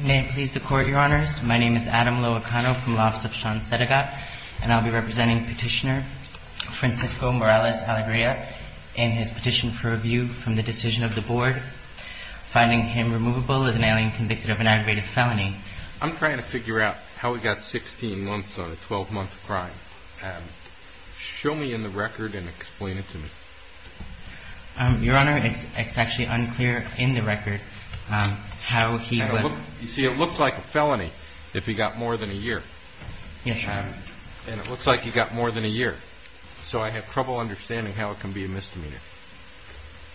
May it please the Court, Your Honors. My name is Adam Loacano from the Office of Sean Sedegat and I'll be representing Petitioner Francisco Morales-Alegria in his petition for review from the decision of the Board, finding him removable as an alien convicted of an aggravated felony. I'm trying to figure out how he got 16 months on a 12-month crime. Show me in the record and explain it to me. Your Honor, it's actually unclear in the record how he was... You see, it looks like a felony if he got more than a year. Yes, Your Honor. And it looks like he got more than a year, so I have trouble understanding how it can be a misdemeanor.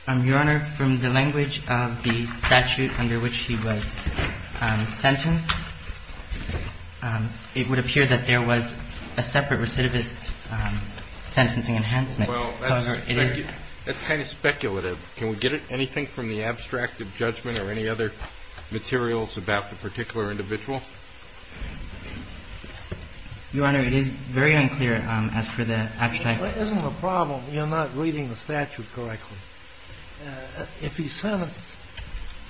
Your Honor, from the language of the statute under which he was sentenced, it would appear that there was a separate recidivist sentencing enhancement. Well, that's kind of speculative. Can we get anything from the abstract of judgment or any other materials about the particular individual? Your Honor, it is very unclear as for the abstract... Well, isn't the problem you're not reading the statute correctly? If he's sentenced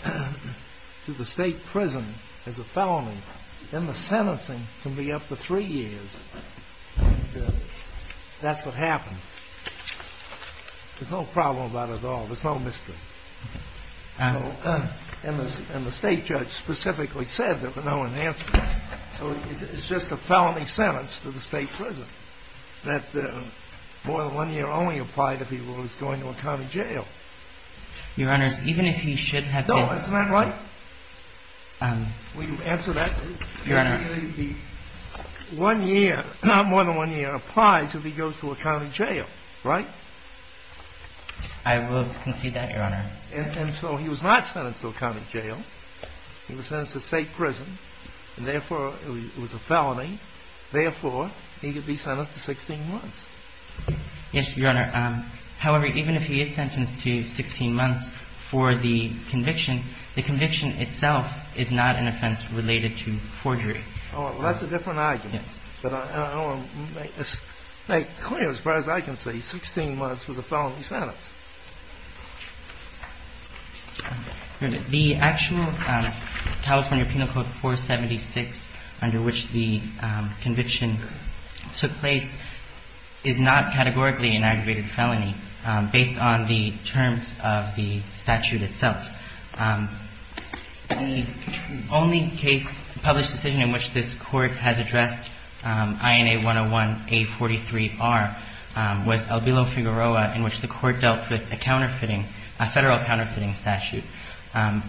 to the state prison as a felony, then the sentencing can be up to three years. That's what happened. There's no problem about it at all. There's no mystery. And the state judge specifically said there were no enhancements, so it's just a felony sentence to the state prison that more than one year only applied if he was going to a county jail. Your Honor, even if he should have been... No, isn't that right? Will you answer that? Your Honor... One year, not more than one year applies if he goes to a county jail, right? I will concede that, Your Honor. And so he was not sentenced to a county jail. He was sentenced to state prison, and therefore it was a felony. Therefore, he could be sentenced to 16 months. Yes, Your Honor. However, even if he is sentenced to 16 months for the conviction, the conviction itself is not an offense related to forgery. Well, that's a different argument. But I want to make clear, as far as I can see, 16 months was a felony sentence. The actual California Penal Code 476 under which the conviction took place is not categorically an aggravated felony based on the terms of the statute itself. The only case, published decision in which this Court has addressed INA 101-A43-R was Albilo-Figueroa in which the Court dealt with a counterfeiting, a federal counterfeiting statute. And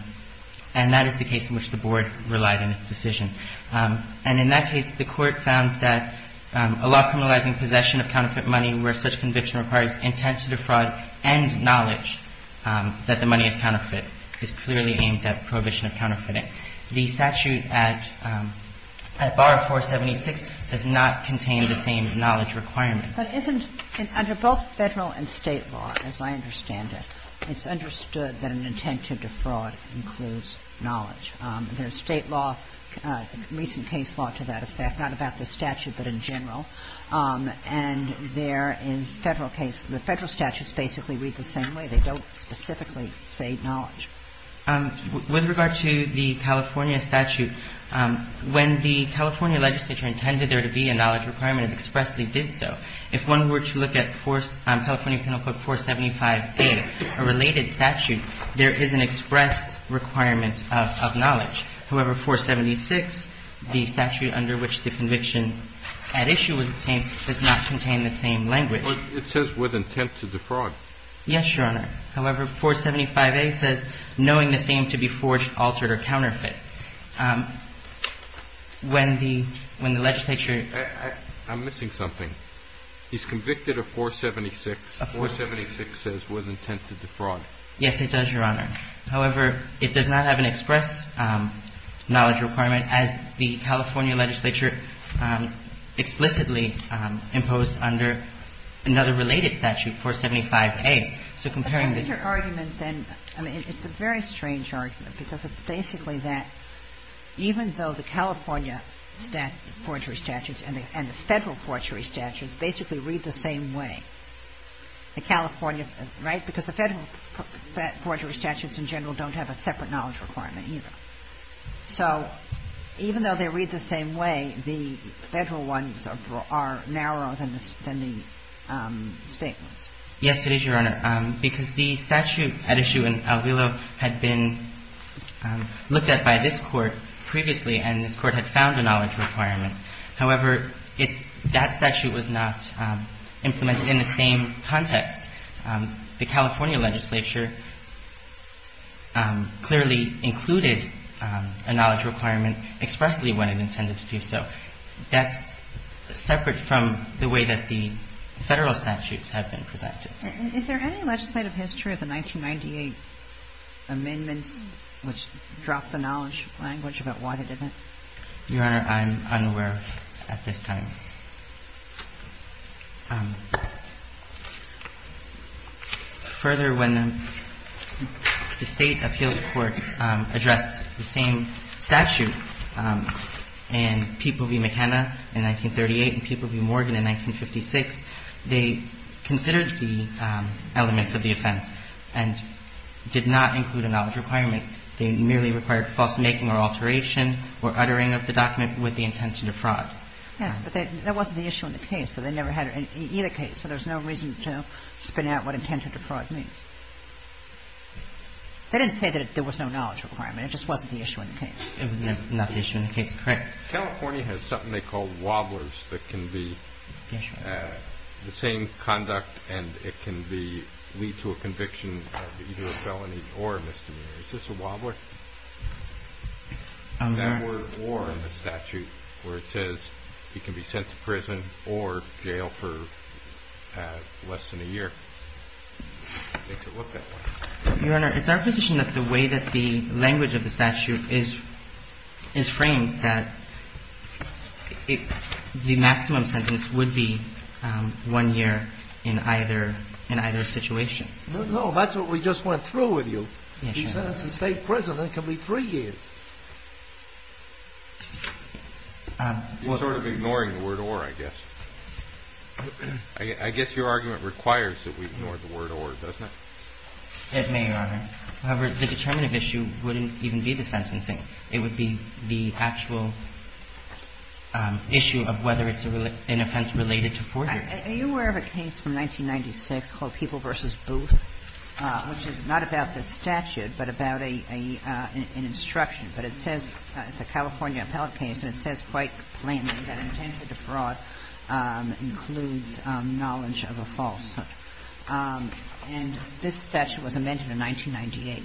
that is the case in which the Board relied in its decision. And in that case, the Court found that a law criminalizing possession of counterfeit money where such conviction requires intent to defraud and knowledge that the money is counterfeit is clearly aimed at prohibition of counterfeiting. The statute at Bar 476 does not contain the same knowledge requirement. But isn't under both Federal and State law, as I understand it, it's understood that an intent to defraud includes knowledge. There's State law, recent case law to that effect, not about the statute, but in general. And there is Federal case. The Federal statutes basically read the same way. They don't specifically say knowledge. With regard to the California statute, when the California legislature intended there to be a knowledge requirement, it expressly did so. If one were to look at California Penal Code 475-A, a related statute, there is an expressed requirement of knowledge. However, 476, the statute under which the conviction at issue was obtained, does not contain the same language. It says with intent to defraud. Yes, Your Honor. However, 475-A says knowing the same to be forged, altered, or counterfeit. When the legislature ---- I'm missing something. He's convicted of 476. 476 says with intent to defraud. Yes, it does, Your Honor. However, it does not have an express knowledge requirement as the California legislature explicitly imposed under another related statute, 475-A. So comparing the ---- But what's your argument then? I mean, it's a very strange argument because it's basically that even though the California statute ---- forgery statutes and the Federal forgery statutes basically read the same way, the California ---- right? Because the Federal forgery statutes in general don't have a separate knowledge requirement either. So even though they read the same way, the Federal ones are narrower than the State ones. Yes, it is, Your Honor, because the statute at issue in Alvillo had been looked at by this Court previously, and this Court had found a knowledge requirement. However, it's ---- that statute was not implemented in the same context. The California legislature clearly included a knowledge requirement expressly when it intended to do so. That's separate from the way that the Federal statutes have been presented. Is there any legislative history of the 1998 amendments which dropped the knowledge language about why it didn't? Your Honor, I'm unaware of, at this time. Further, when the State appeals courts addressed the same statute in People v. McKenna in 1938 and People v. Morgan in 1956, they considered the elements of the offense and did not include a knowledge requirement. They merely required false making or alteration or uttering of the document with the intention to fraud. Yes, but that wasn't the issue in the case. So they never had it in either case. So there's no reason to spin out what intent to fraud means. They didn't say that there was no knowledge requirement. It just wasn't the issue in the case. It was not the issue in the case. Correct. California has something they call wobblers that can be the same conduct and it can be lead to a conviction of either a felony or a misdemeanor. Is this a wobbler? That word war in the statute where it says he can be sent to prison or jail for less than a year. Take a look at that. Your Honor, it's our position that the way that the language of the statute is framed that the maximum sentence would be one year in either situation. No, that's what we just went through with you. Yes, Your Honor. He's sentenced to state prison and it can be three years. You're sort of ignoring the word or, I guess. I guess your argument requires that we ignore the word or, doesn't it? It may, Your Honor. However, the determinative issue wouldn't even be the sentencing. It would be the actual issue of whether it's an offense related to forgery. Are you aware of a case from 1996 called People v. Booth, which is not about the statute but about an instruction, but it says, it's a California appellate case, and it says quite plainly that intent to defraud includes knowledge of a falsehood. And this statute was amended in 1998.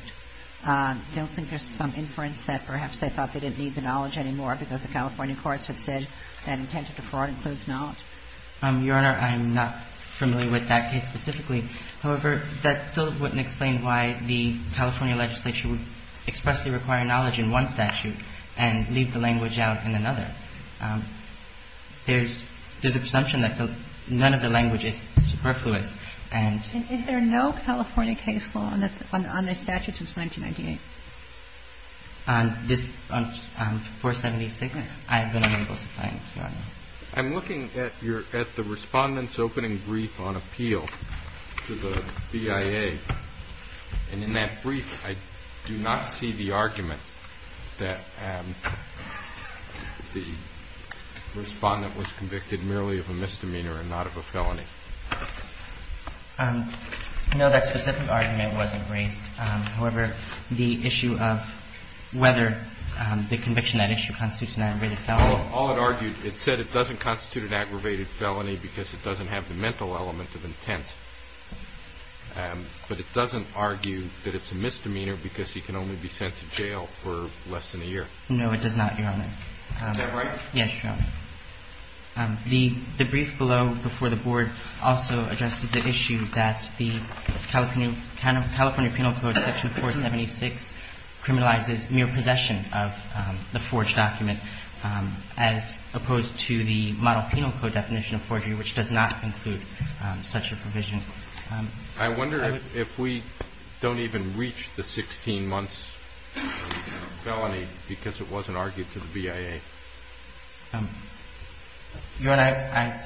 I don't think there's some inference that perhaps they thought they didn't need to knowledge anymore because the California courts have said that intent to defraud includes knowledge. Your Honor, I'm not familiar with that case specifically. However, that still wouldn't explain why the California legislature would expressly require knowledge in one statute and leave the language out in another. There's an assumption that none of the language is superfluous. And is there no California case law on this statute since 1998? On this 476, I've been unable to find, Your Honor. I'm looking at your – at the Respondent's opening brief on appeal to the BIA. And in that brief, I do not see the argument that the Respondent was convicted merely of a misdemeanor and not of a felony. No, that specific argument wasn't raised. However, the issue of whether the conviction at issue constitutes an aggravated felony. Well, all it argued, it said it doesn't constitute an aggravated felony because it doesn't have the mental element of intent. But it doesn't argue that it's a misdemeanor because he can only be sent to jail for less than a year. No, it does not, Your Honor. Is that right? Yes, Your Honor. The brief below before the Board also addresses the issue that the California Penal Code, Section 476, criminalizes mere possession of the forged document, as opposed to the model penal code definition of forgery, which does not include such a provision. I wonder if we don't even reach the 16 months felony because it wasn't argued to the BIA. Your Honor, I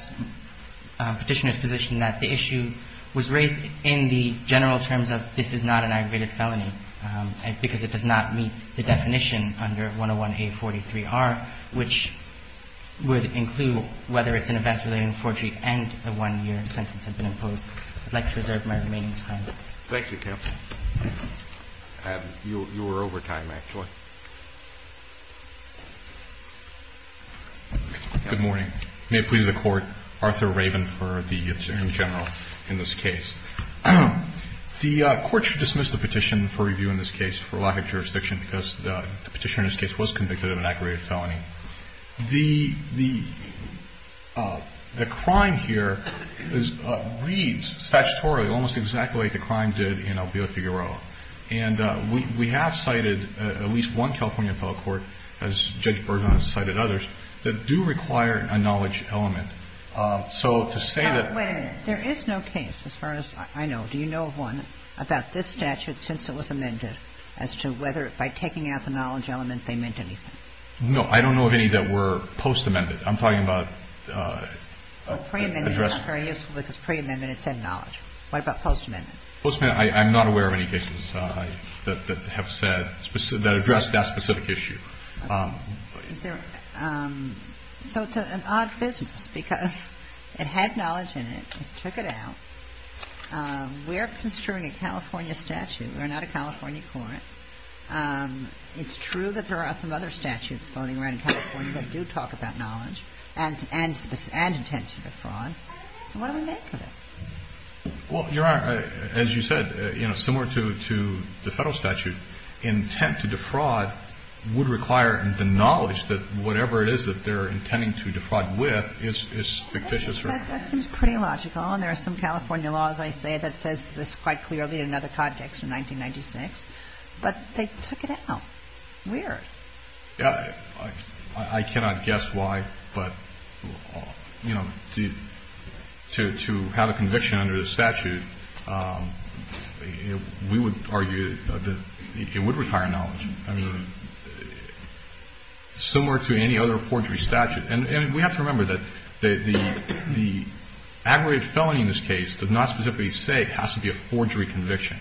am Petitioner's position that the issue was raised in the general terms of this is not an aggravated felony because it does not meet the definition under 101-A43-R, which would include whether it's an events-related forgery and the 1-year sentence had been imposed. I'd like to reserve my remaining time. Thank you, counsel. You were over time, actually. Good morning. May it please the Court. Arthur Raven for the Attorney General in this case. The Court should dismiss the petition for review in this case for lack of jurisdiction because the Petitioner in this case was convicted of an aggravated felony. The crime here reads statutorily almost exactly like the crime did in Albedo Figueroa. And we have cited at least one California appellate court, as Judge Bergen has cited others, that do require a knowledge element. So to say that the ---- Wait a minute. There is no case, as far as I know. Do you know of one about this statute since it was amended as to whether by taking out the knowledge element they meant anything? No. I don't know of any that were post-amended. I'm talking about ---- Pre-amended is not very useful because pre-amended said knowledge. What about post-amended? Post-amended, I'm not aware of any cases that have said ---- that address that specific issue. So it's an odd business because it had knowledge in it. It took it out. We're construing a California statute. We're not a California court. It's true that there are some other statutes floating around in California that do talk about knowledge and intention to fraud. So what do we make of it? Well, Your Honor, as you said, similar to the federal statute, intent to defraud would require the knowledge that whatever it is that they're intending to defraud with is fictitious. That seems pretty logical. And there are some California laws, I say, that says this quite clearly in other context in 1996. But they took it out. Weird. I cannot guess why. But, you know, to have a conviction under the statute, we would argue that it would require knowledge. I mean, similar to any other forgery statute. And we have to remember that the aggregate felony in this case does not specifically say it has to be a forgery conviction.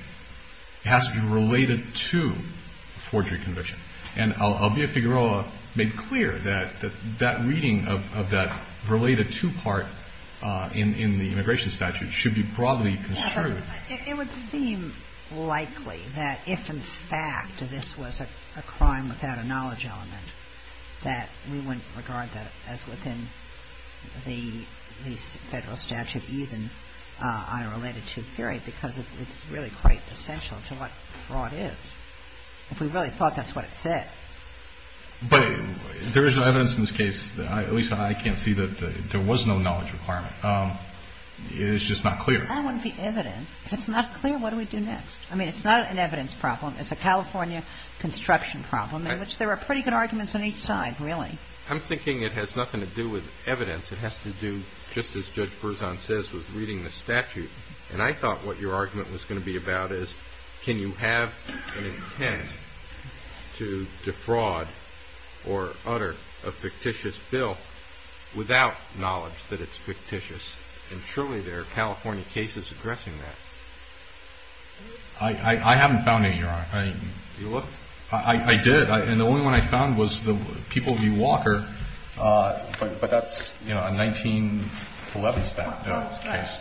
It has to be related to a forgery conviction. And Albia Figueroa made clear that that reading of that related to part in the immigration statute should be broadly construed. It would seem likely that if, in fact, this was a crime without a knowledge element, that we wouldn't regard that as within the federal statute even on a related to theory because it's really quite essential to what fraud is. If we really thought that's what it said. But there is evidence in this case, at least I can't see that there was no knowledge requirement. It's just not clear. That wouldn't be evidence. If it's not clear, what do we do next? I mean, it's not an evidence problem. It's a California construction problem in which there are pretty good arguments on each side, really. I'm thinking it has nothing to do with evidence. It has to do just as Judge Berzon says with reading the statute. And I thought what your argument was going to be about is can you have an intent to defraud or utter a fictitious bill without knowledge that it's fictitious. And surely there are California cases addressing that. I haven't found any, Your Honor. You look. I did. And the only one I found was the People v. Walker. But that's, you know, a 1911 case.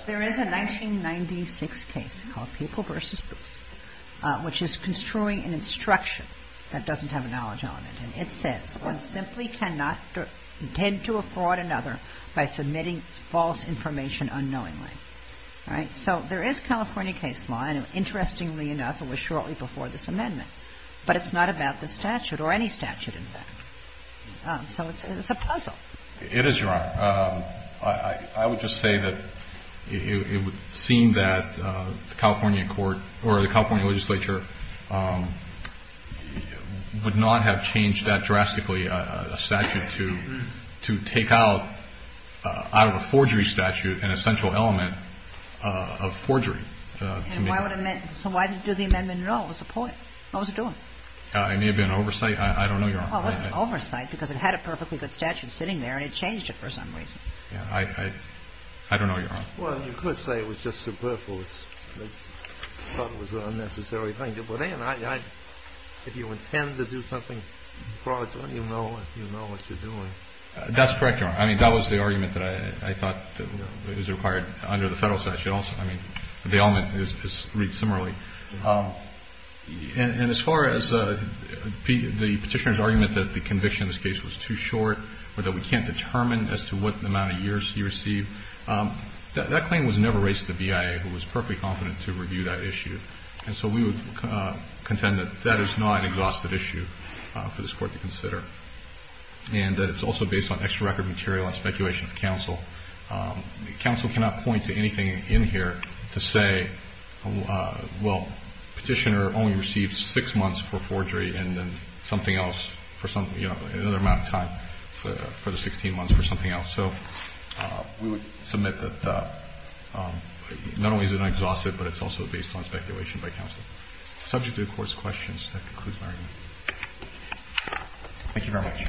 There is a 1996 case called People v. Booth, which is construing an instruction that doesn't have a knowledge element. And it says one simply cannot intend to fraud another by submitting false information unknowingly. Right? So there is California case law, and interestingly enough, it was shortly before this amendment. But it's not about the statute, or any statute, in fact. So it's a puzzle. It is, Your Honor. I would just say that it would seem that the California court or the California legislature would not have changed that drastically, a statute to take out out of a forgery statute an essential element of forgery. And why would it make it? So why did it do the amendment at all? What was the point? What was it doing? It may have been oversight. I don't know, Your Honor. Well, it wasn't oversight because it had a perfectly good statute sitting there, and it changed it for some reason. Yeah. I don't know, Your Honor. Well, you could say it was just superfluous. I thought it was an unnecessary thing. But if you intend to do something fraudulent, you know what you're doing. That's correct, Your Honor. I mean, that was the argument that I thought is required under the Federal statute also. I mean, the element is read similarly. And as far as the Petitioner's argument that the conviction in this case was too short or that we can't determine as to what amount of years he received, that claim was never raised to the BIA, who was perfectly confident to review that issue. And so we would contend that that is not an exhaustive issue for this Court to consider and that it's also based on extra record material and speculation of counsel. Counsel cannot point to anything in here to say, well, Petitioner only received six months for forgery and then something else for some, you know, another amount of time for the 16 months for something else. So we would submit that not only is it an exhaustive, but it's also based on speculation by counsel. Subject to the Court's questions, that concludes my argument. Thank you very much.